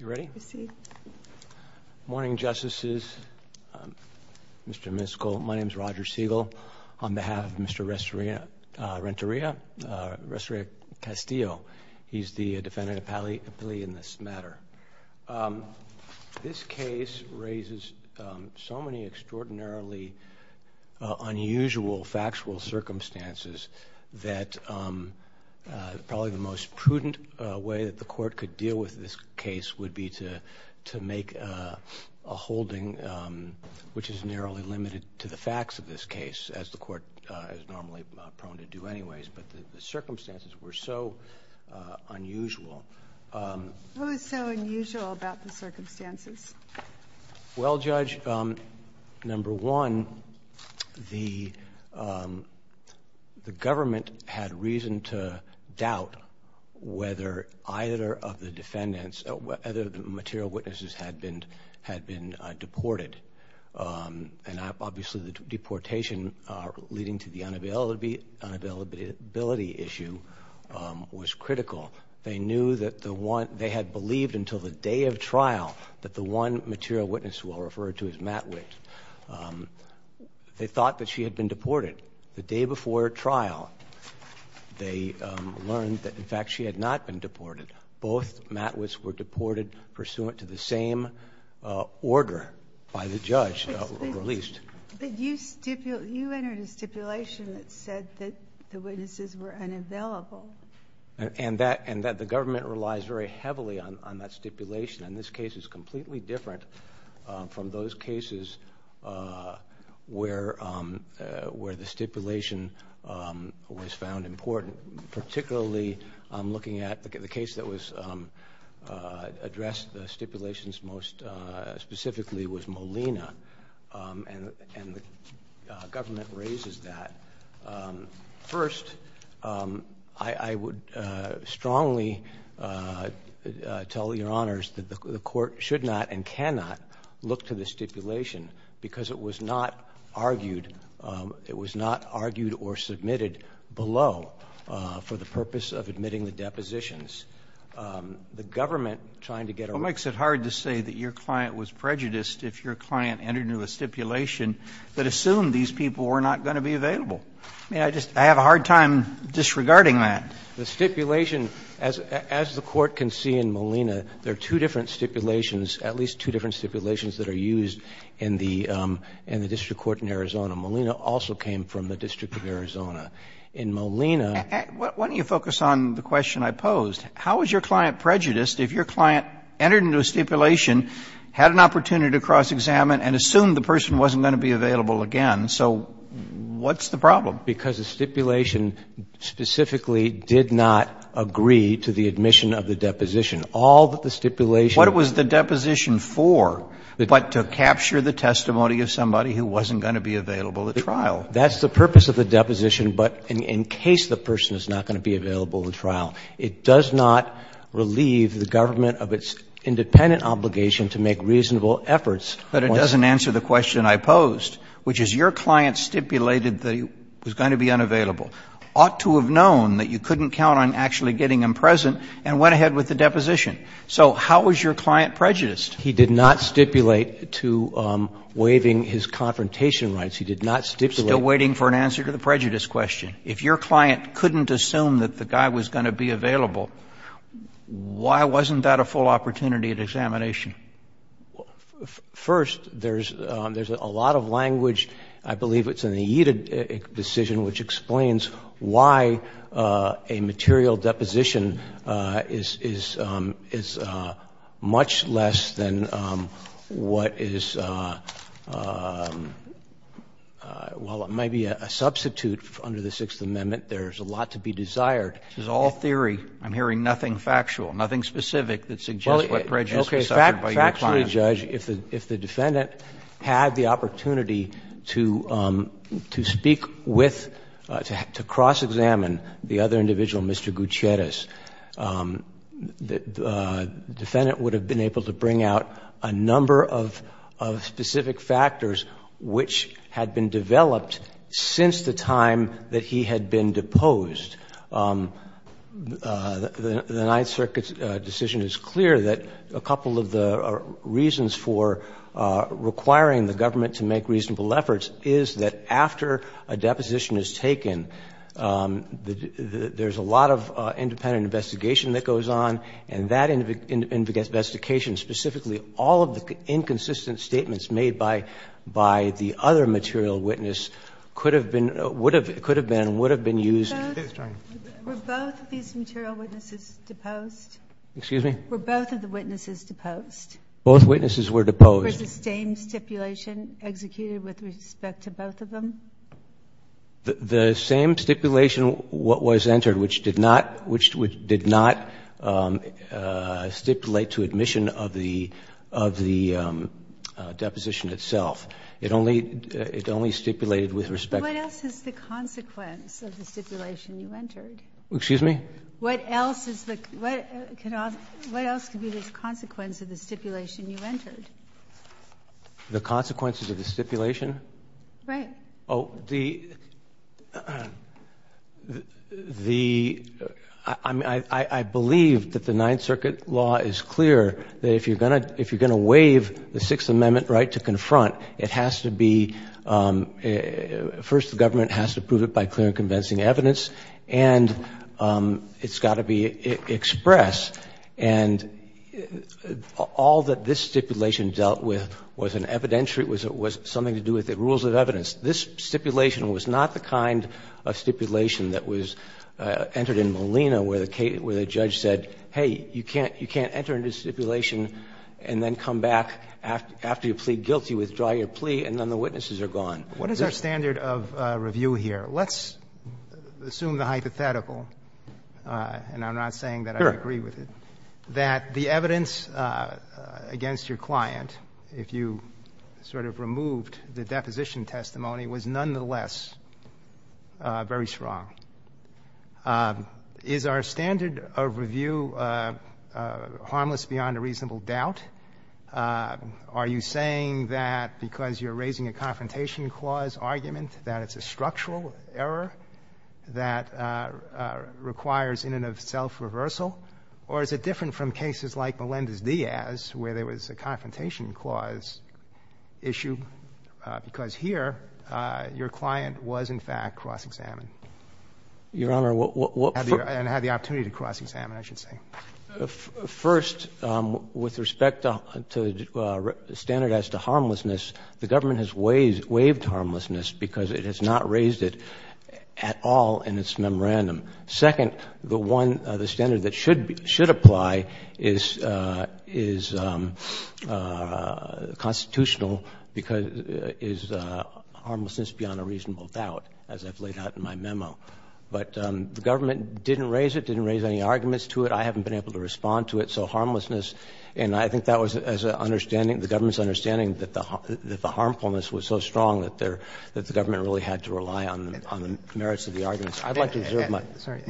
Good morning, Justices, Mr. Miskol, my name is Roger Siegel. On behalf of Mr. Renteria-Castillo, he's the Defendant Appellee in this matter. This case raises so many extraordinarily unusual factual circumstances that probably the most would be to make a holding which is narrowly limited to the facts of this case, as the Court is normally prone to do anyways, but the circumstances were so unusual. What was so unusual about the circumstances? Well, Judge, number one, the government had reason to doubt whether either of the defendants or other material witnesses had been deported, and obviously the deportation leading to the unavailability issue was critical. They knew that they had believed until the day of trial that the one material witness we'll refer to is Matwitz. They thought that she had been deported. The day before trial, they learned that, in fact, she had not been deported. Both Matwitz were deported pursuant to the same order by the judge released. You entered a stipulation that said that the witnesses were unavailable. And that the government relies very heavily on that stipulation, and this case is completely different from those cases where the stipulation was found important, particularly looking at the case that addressed the stipulations most specifically was Molina, and the government raises that. First, I would strongly tell Your Honors that the Court should not and cannot look to the stipulation because it was not argued or submitted below for the purpose of admitting the depositions. The government trying to get around that. Roberts, what makes it hard to say that your client was prejudiced if your client entered into a stipulation that assumed these people were not going to be available? I mean, I just have a hard time disregarding that. The stipulation, as the Court can see in Molina, there are two different stipulations, at least two different stipulations that are used in the district court in Arizona. Molina also came from the district of Arizona. In Molina — Why don't you focus on the question I posed? How is your client prejudiced if your client entered into a stipulation, had an opportunity to cross-examine, and assumed the person wasn't going to be available again? So what's the problem? Because the stipulation specifically did not agree to the admission of the deposition. All that the stipulation — What was the deposition for but to capture the testimony of somebody who wasn't going to be available at trial? That's the purpose of the deposition, but in case the person is not going to be available at trial, it does not relieve the government of its independent obligation to make reasonable efforts once — But it doesn't answer the question I posed, which is your client stipulated that he was going to be unavailable, ought to have known that you couldn't count on actually getting him present, and went ahead with the deposition. So how is your client prejudiced? He did not stipulate to waiving his confrontation rights. He did not stipulate — Still waiting for an answer to the prejudice question. If your client couldn't assume that the guy was going to be available, why wasn't that a full opportunity at examination? First, there's a lot of language, I believe it's in the Yeaded decision, which explains why a material deposition is much less than what is in the Yeeded decision, which is why, while it might be a substitute under the Sixth Amendment, there's a lot to be desired. It's all theory. I'm hearing nothing factual, nothing specific that suggests what prejudice was suffered by your client. Well, okay, factually, Judge, if the defendant had the opportunity to speak with, to cross-examine the other individual, Mr. Gutierrez, the defendant would have been able to bring out a number of specific factors which had been developed since the time that he had been deposed. The Ninth Circuit's decision is clear that a couple of the reasons for requiring the government to make reasonable efforts is that after a deposition is taken, there's a lot of independent investigation that goes on, and that investigation, specifically all of the inconsistent statements made by the other material witness, could have been used. Were both of these material witnesses deposed? Excuse me? Were both of the witnesses deposed? Both witnesses were deposed. Was the same stipulation executed with respect to both of them? The same stipulation was entered, which did not stipulate to admission of the deposition itself. It only stipulated with respect to the other witnesses. What else is the consequence of the stipulation you entered? Excuse me? What else is the consequence of the stipulation you entered? The consequences of the stipulation? Right. Oh, the, the, I believe that the Ninth Circuit law is clear that if you're going to waive the Sixth Amendment right to confront, it has to be, first the government has to prove it by clear and convincing evidence, and it's got to be expressed. And all that this stipulation dealt with was an evidentiary, was something to do with the fact that this stipulation was not the kind of stipulation that was entered in Molina where the judge said, hey, you can't enter into stipulation and then come back after you plead guilty, withdraw your plea, and then the witnesses are gone. What is our standard of review here? Let's assume the hypothetical, and I'm not saying that I agree with it, that the evidence against your client, if you sort of removed the deposition testimony, was nonetheless very strong. Is our standard of review harmless beyond a reasonable doubt? Are you saying that because you're raising a confrontation clause argument that it's a structural error that requires in and of itself reversal? Or is it different from cases like Melendez-Diaz where there was a confrontation clause issue because here your client was, in fact, cross-examined? Your Honor, what — And had the opportunity to cross-examine, I should say. First, with respect to standardized to harmlessness, the government has waived harmlessness because it has not raised it at all in its memorandum. Second, the one, the standard that should apply is constitutional, because is harmlessness beyond a reasonable doubt, as I've laid out in my memo. But the government didn't raise it, didn't raise any arguments to it. I haven't been able to respond to it. So harmlessness, and I think that was as an understanding, the government's understanding that the harmfulness was so strong that the government really had to rely on the merits of the arguments. I'd like to reserve my — Sorry.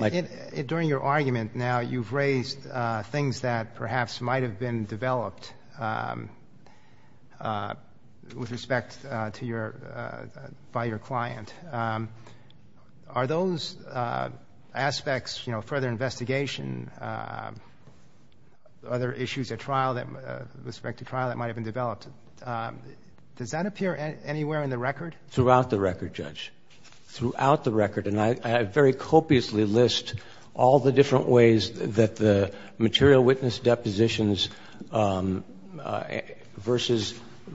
During your argument now, you've raised things that perhaps might have been developed with respect to your — by your client. Are those aspects, you know, further investigation, other issues at trial that — with respect to trial that might have been developed, does that appear anywhere in the record? Throughout the record, Judge. Throughout the record, and I very copiously list all the different ways that the material witness depositions versus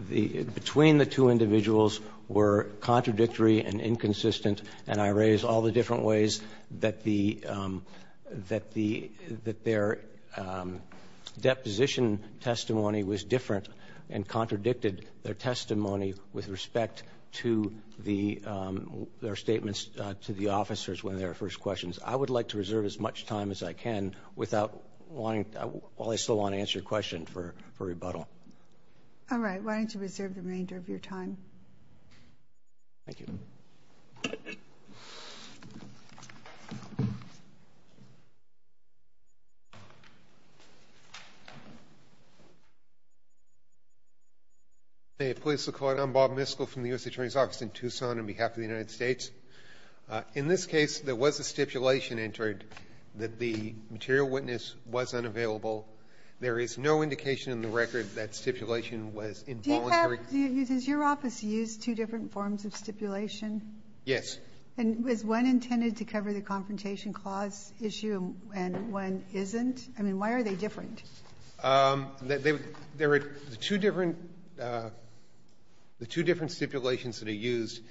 the — between the two individuals were contradictory and inconsistent, and I raise all the different ways that the — that the — that their deposition testimony was different and contradicted their testimony with respect to the — their statements to the officers when they were first questioned. I would like to reserve as much time as I can without wanting — while I still want to answer your question for rebuttal. All right. Why don't you reserve the remainder of your time? Thank you. Hey. I'm Bob Miskell from the U.S. Attorney's Office in Tucson on behalf of the United States. In this case, there was a stipulation entered that the material witness was unavailable. There is no indication in the record that stipulation was involuntary. Do you have — does your office use two different forms of stipulation? Yes. And is one intended to cover the confrontation clause issue and one isn't? I mean, why are they different? There are two different — the two different stipulations that are used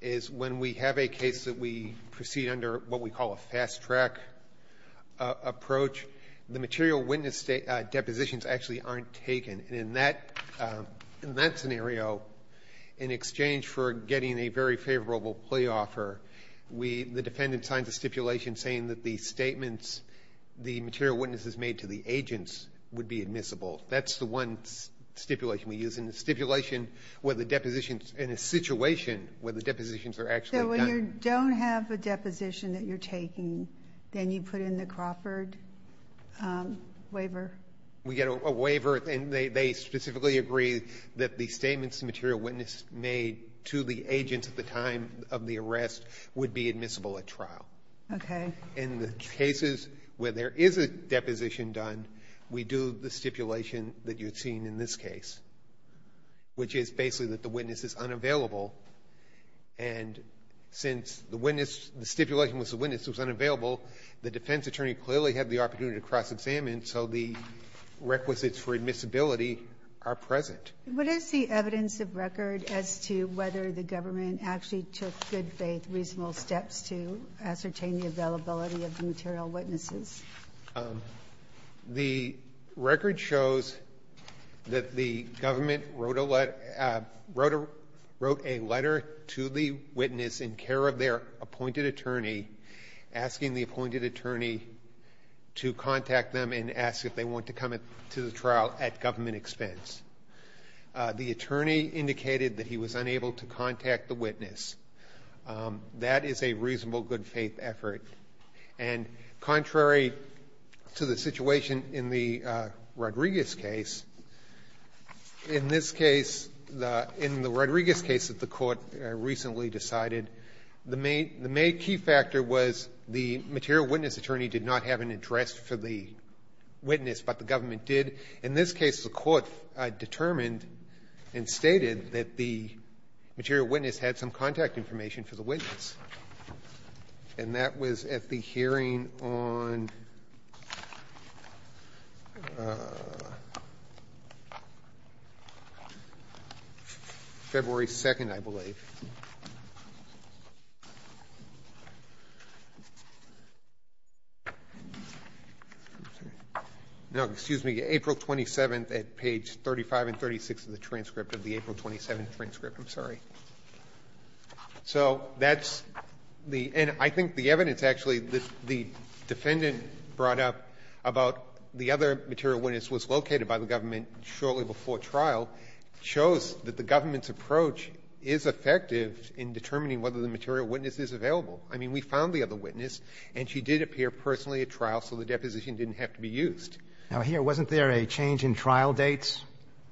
is when we have a case that we proceed under what we call a fast-track approach, the material witness depositions actually aren't taken. And in that scenario, in exchange for getting a very favorable plea offer, we — the defendant signs a stipulation saying that the statements the material witness has would be admissible. That's the one stipulation we use. And the stipulation where the depositions — in a situation where the depositions are actually done — So when you don't have a deposition that you're taking, then you put in the Crawford waiver? We get a waiver, and they specifically agree that the statements the material witness made to the agent at the time of the arrest would be admissible at trial. Okay. In the cases where there is a deposition done, we do the stipulation that you've seen in this case, which is basically that the witness is unavailable. And since the witness — the stipulation was the witness was unavailable, the defense attorney clearly had the opportunity to cross-examine, so the requisites for admissibility are present. What is the evidence of record as to whether the government actually took good-faith, reasonable steps to ascertain the availability of the material witnesses? The record shows that the government wrote a letter to the witness in care of their appointed attorney, asking the appointed attorney to contact them and ask if they want to come to the trial at government expense. The attorney indicated that he was unable to contact the witness. That is a reasonable good-faith effort. And contrary to the situation in the Rodriguez case, in this case, in the Rodriguez case that the Court recently decided, the main key factor was the material witness attorney did not have an address for the witness, but the government did. In this case, the Court determined and stated that the material witness had some contact information for the witness. And that was at the hearing on February 2nd, I believe. No, excuse me, April 27th at page 35 and 36 of the transcript of the April 27th transcript. I'm sorry. So that's the end. I think the evidence, actually, the defendant brought up about the other material witness was located by the government shortly before trial, shows that the government's approach is effective in determining whether the material witness is available. I mean, we found the other witness, and she did appear personally at trial, so the deposition didn't have to be used. Now, here, wasn't there a change in trial dates?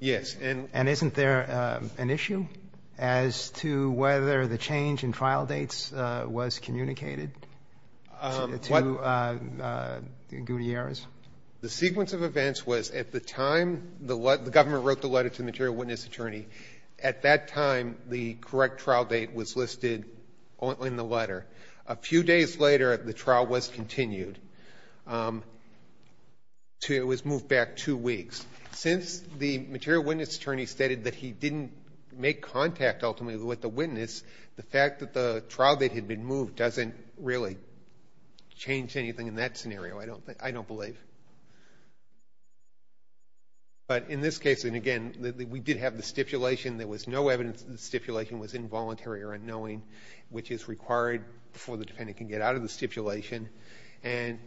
Yes. And isn't there an issue as to whether the change in trial dates was communicated to Gutierrez? The correct trial date was listed in the letter. A few days later, the trial was continued. It was moved back two weeks. Since the material witness attorney stated that he didn't make contact, ultimately, with the witness, the fact that the trial date had been moved doesn't really change anything in that scenario, I don't believe. But in this case, and again, we did have the stipulation. There was no evidence that the stipulation was involuntary or unknowing, which is required before the defendant can get out of the stipulation. And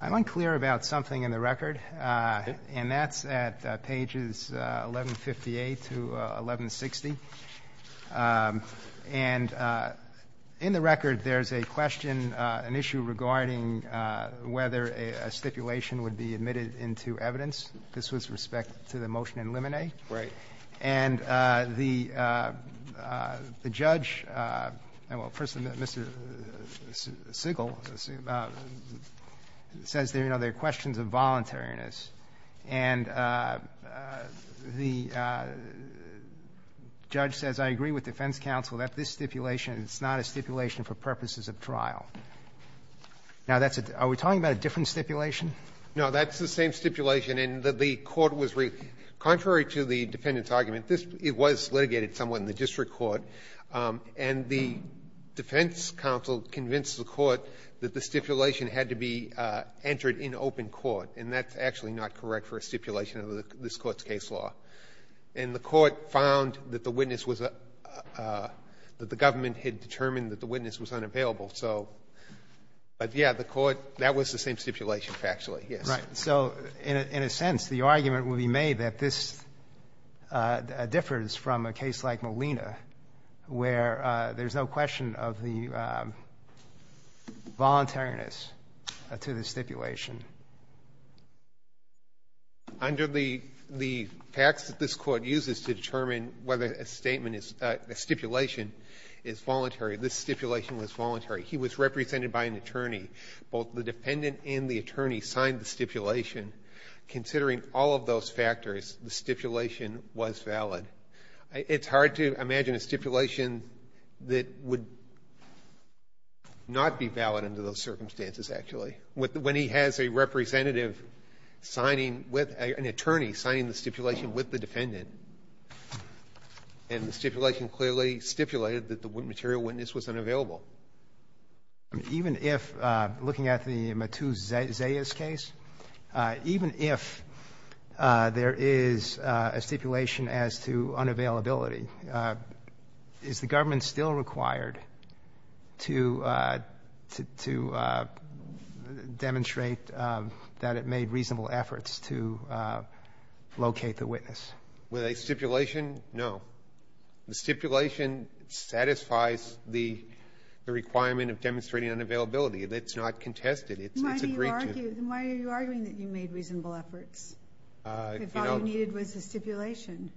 I'm unclear about something in the record, and that's at pages 1158 to 1160. And in the record, there's a question, an issue, regarding whether a stipulation would be admitted into evidence. This was with respect to the motion in limine. Right. And the judge, well, first, Mr. Sigel, says there are questions of voluntariness. And the judge says, I agree with defense counsel that this stipulation is not a stipulation for purposes of trial. Now, that's a — are we talking about a different stipulation? No. That's the same stipulation in that the court was — contrary to the defendant's argument, this — it was litigated somewhat in the district court. And the defense counsel convinced the court that the stipulation had to be entered in open court. And that's actually not correct for a stipulation of this Court's case law. And the court found that the witness was — that the government had determined that the witness was unavailable. So — but, yeah, the court — that was the same stipulation, factually, yes. Right. So, in a sense, the argument would be made that this differs from a case like Molina, where there's no question of the voluntariness to the stipulation. Under the facts that this Court uses to determine whether a statement is — a stipulation is voluntary, this stipulation was voluntary. He was represented by an attorney. Both the dependent and the attorney signed the stipulation. Considering all of those factors, the stipulation was valid. It's hard to imagine a stipulation that would not be valid under those circumstances, actually. When he has a representative signing with — an attorney signing the stipulation with the defendant, and the stipulation clearly stipulated that the material witness was unavailable. Even if — looking at the Matus Zayas case, even if there is a stipulation as to the unavailability, is the government still required to demonstrate that it made reasonable efforts to locate the witness? With a stipulation, no. The stipulation satisfies the requirement of demonstrating unavailability. It's not contested. It's agreed to. Why do you argue — why are you arguing that you made reasonable efforts? I thought what you needed was a stipulation.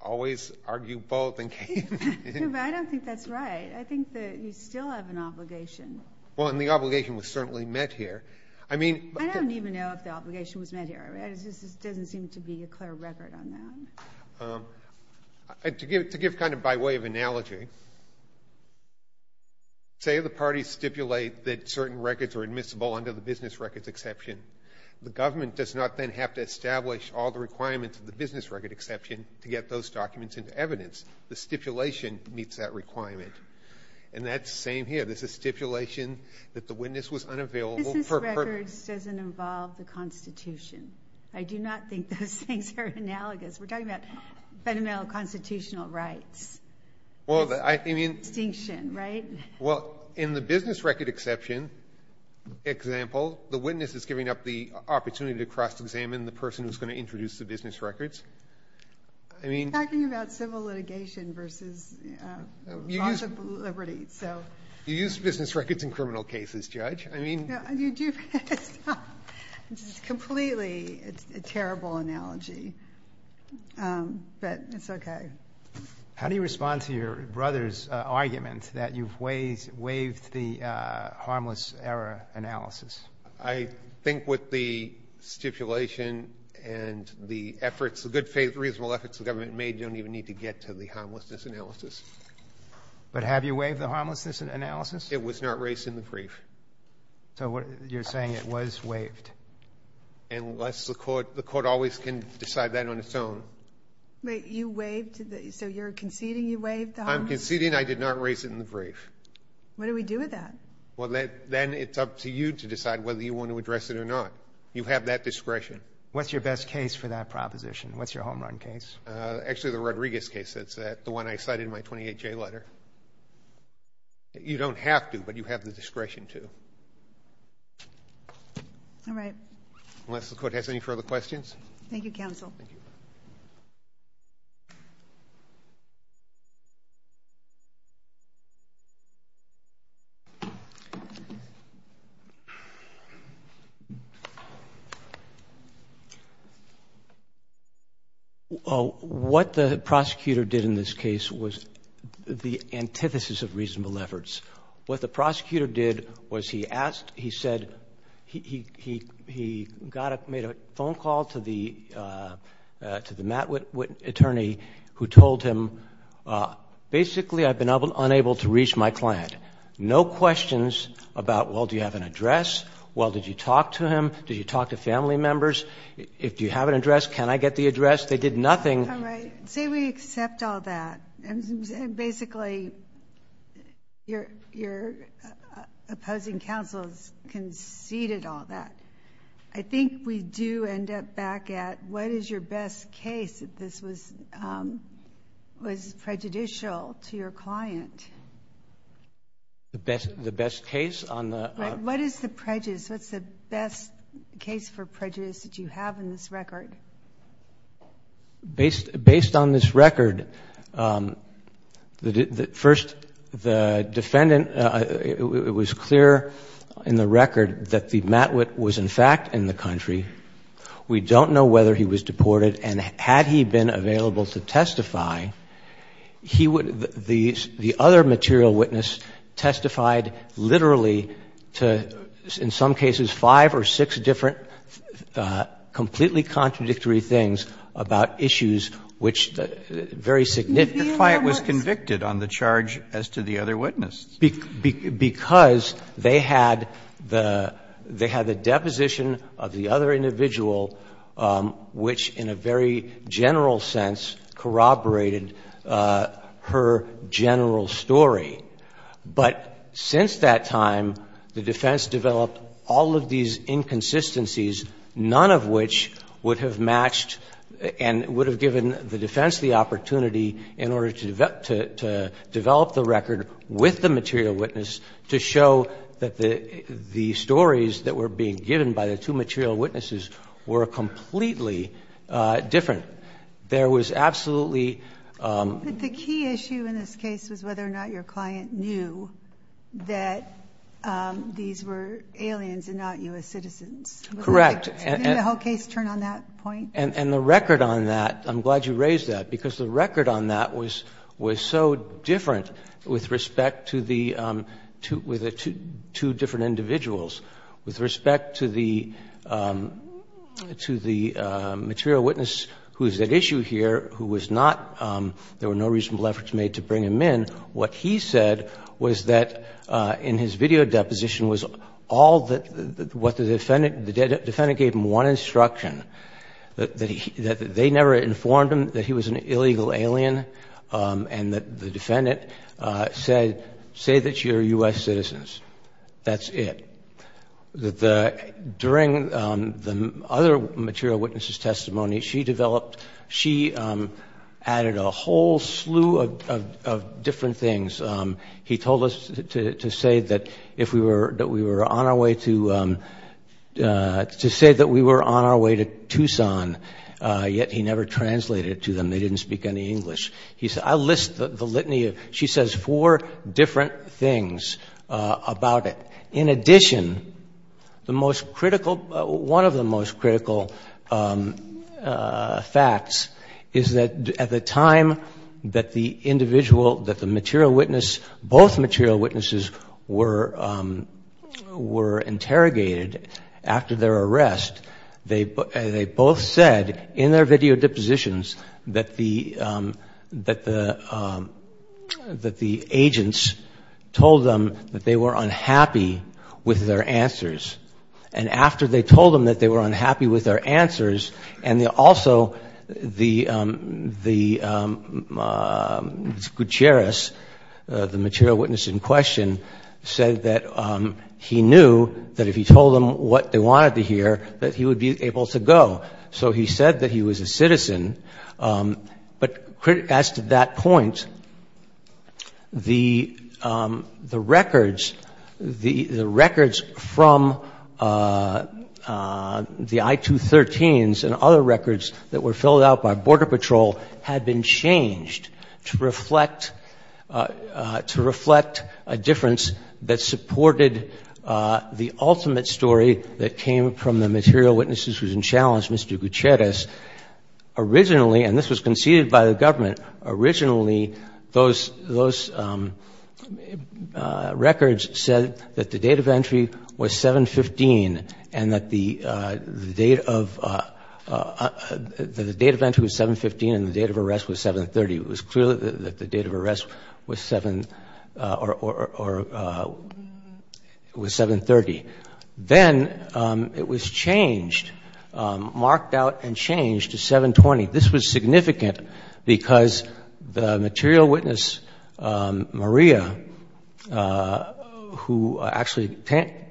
Always argue both. I don't think that's right. I think that you still have an obligation. Well, and the obligation was certainly met here. I mean — I don't even know if the obligation was met here. It just doesn't seem to be a clear record on that. To give kind of by way of analogy, say the parties stipulate that certain records are admissible under the business records exception. The government does not then have to establish all the requirements of the business record exception to get those documents into evidence. The stipulation meets that requirement. And that's the same here. There's a stipulation that the witness was unavailable for — Business records doesn't involve the Constitution. I do not think those things are analogous. We're talking about fundamental constitutional rights. Well, I mean — Distinction, right? Well, in the business record exception example, the witness is giving up the opportunity to cross-examine the person who's going to introduce the business records. I mean — We're talking about civil litigation versus laws of liberty, so — You use business records in criminal cases, Judge. I mean — You do — It's completely a terrible analogy. But it's okay. How do you respond to your brother's argument that you've waived the harmless error analysis? I think with the stipulation and the efforts, the good, reasonable efforts the government made, you don't even need to get to the harmlessness analysis. But have you waived the harmlessness analysis? It was not raised in the brief. So you're saying it was waived? Unless the court — the court always can decide that on its own. But you waived — so you're conceding you waived the harmless — I'm conceding I did not raise it in the brief. What do we do with that? Well, then it's up to you to decide whether you want to address it or not. You have that discretion. What's your best case for that proposition? What's your home run case? Actually, the Rodriguez case. That's the one I cited in my 28-J letter. You don't have to, but you have the discretion to. All right. Unless the court has any further questions? Thank you, counsel. Thank you. What the prosecutor did in this case was the antithesis of reasonable efforts. What the prosecutor did was he asked — he said — he got a — made a phone call to the Matt Witt attorney who told him, basically, I've been unable to reach my client. No questions about, well, do you have an address? Well, did you talk to him? Did you talk to family members? Do you have an address? Can I get the address? They did nothing. All right. Say we accept all that. Basically, your opposing counsel has conceded all that. I think we do end up back at what is your best case if this was prejudicial to your client? The best case on the — What is the prejudice? What's the best case for prejudice that you have in this record? Based on this record, first, the defendant — it was clear in the record that the Matt Witt was, in fact, in the country. We don't know whether he was deported, and had he been available to testify, he would — I think the defense of the defense did, of course, do this very contradictory things about issues which very significantly — The client was convicted on the charge as to the other witness. Because they had the — they had the deposition of the other individual which, in a very general sense, corroborated her general story. But since that time, the defense developed all of these inconsistencies, none of which would have matched and would have given the defense the opportunity in order to develop the record with the material witness to show that the stories that were being given by the two material witnesses were completely different. There was absolutely — But the key issue in this case was whether or not your client knew that these were aliens and not U.S. citizens. Correct. Didn't the whole case turn on that point? And the record on that, I'm glad you raised that, because the record on that was so different with respect to the — with the two different individuals, with respect to the material witness who is at issue here, who was not — there were no reasonable efforts made to bring him in. What he said was that in his video deposition was all that — what the defendant — the defendant gave him one instruction, that they never informed him that he was an illegal alien and that the defendant said, say that you're U.S. citizens. That's it. During the other material witness's testimony, she developed — she added a whole slew of different things. He told us to say that if we were — that we were on our way to — to say that we were on our way to Tucson, yet he never translated it to them. They didn't speak any English. He said, I'll list the litany of — she says four different things about it. In addition, the most critical — one of the most critical facts is that at the time that the individual — that the material witness — both material witnesses were interrogated after their arrest, they both said in their video depositions that the — that the agents told them that they were unhappy with their answers. And after they told them that they were unhappy with their answers, and also the — Gutierrez, the material witness in question, said that he knew that if he told them what they wanted to hear, that he would be able to go. So he said that he was a citizen. But as to that point, the records — the records from the I-213s and other records that were filled out by Border Patrol had been changed to reflect — to reflect a difference that supported the ultimate story that came from the material witnesses who had been challenged, Mr. Gutierrez. Originally — and this was conceded by the government — the date of entry was 7-15 and the date of arrest was 7-30. It was clear that the date of arrest was 7 — or — was 7-30. Then it was changed — marked out and changed to 7-20. This was significant because the material witness, Maria, who actually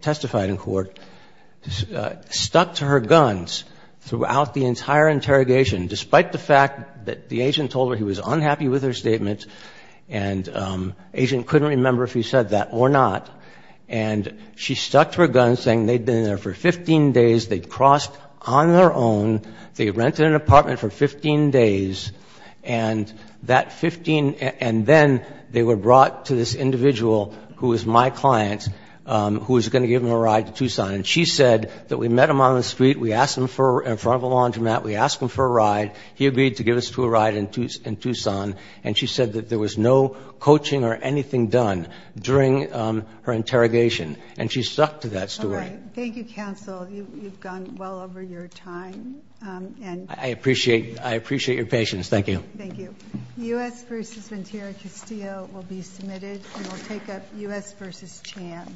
testified in court, stuck to her guns throughout the entire interrogation, despite the fact that the agent told her he was unhappy with her statement. And the agent couldn't remember if he said that or not. And she stuck to her guns, saying they'd been there for 15 days, they'd crossed on their own, they'd rented an apartment for 15 days, and that 15 — and then they were brought to this individual who was my client, who was going to give them a ride to Tucson. And she said that we met him on the street, we asked him for — in front of a laundromat, we asked him for a ride, he agreed to give us to a ride in Tucson, and she said that there was no coaching or anything done during her interrogation. And she stuck to that story. All right. Thank you, counsel. You've gone well over your time. I appreciate — I appreciate your patience. Thank you. Thank you. U.S. v. Ventura Castillo will be submitted, and we'll take up U.S. v. Chan.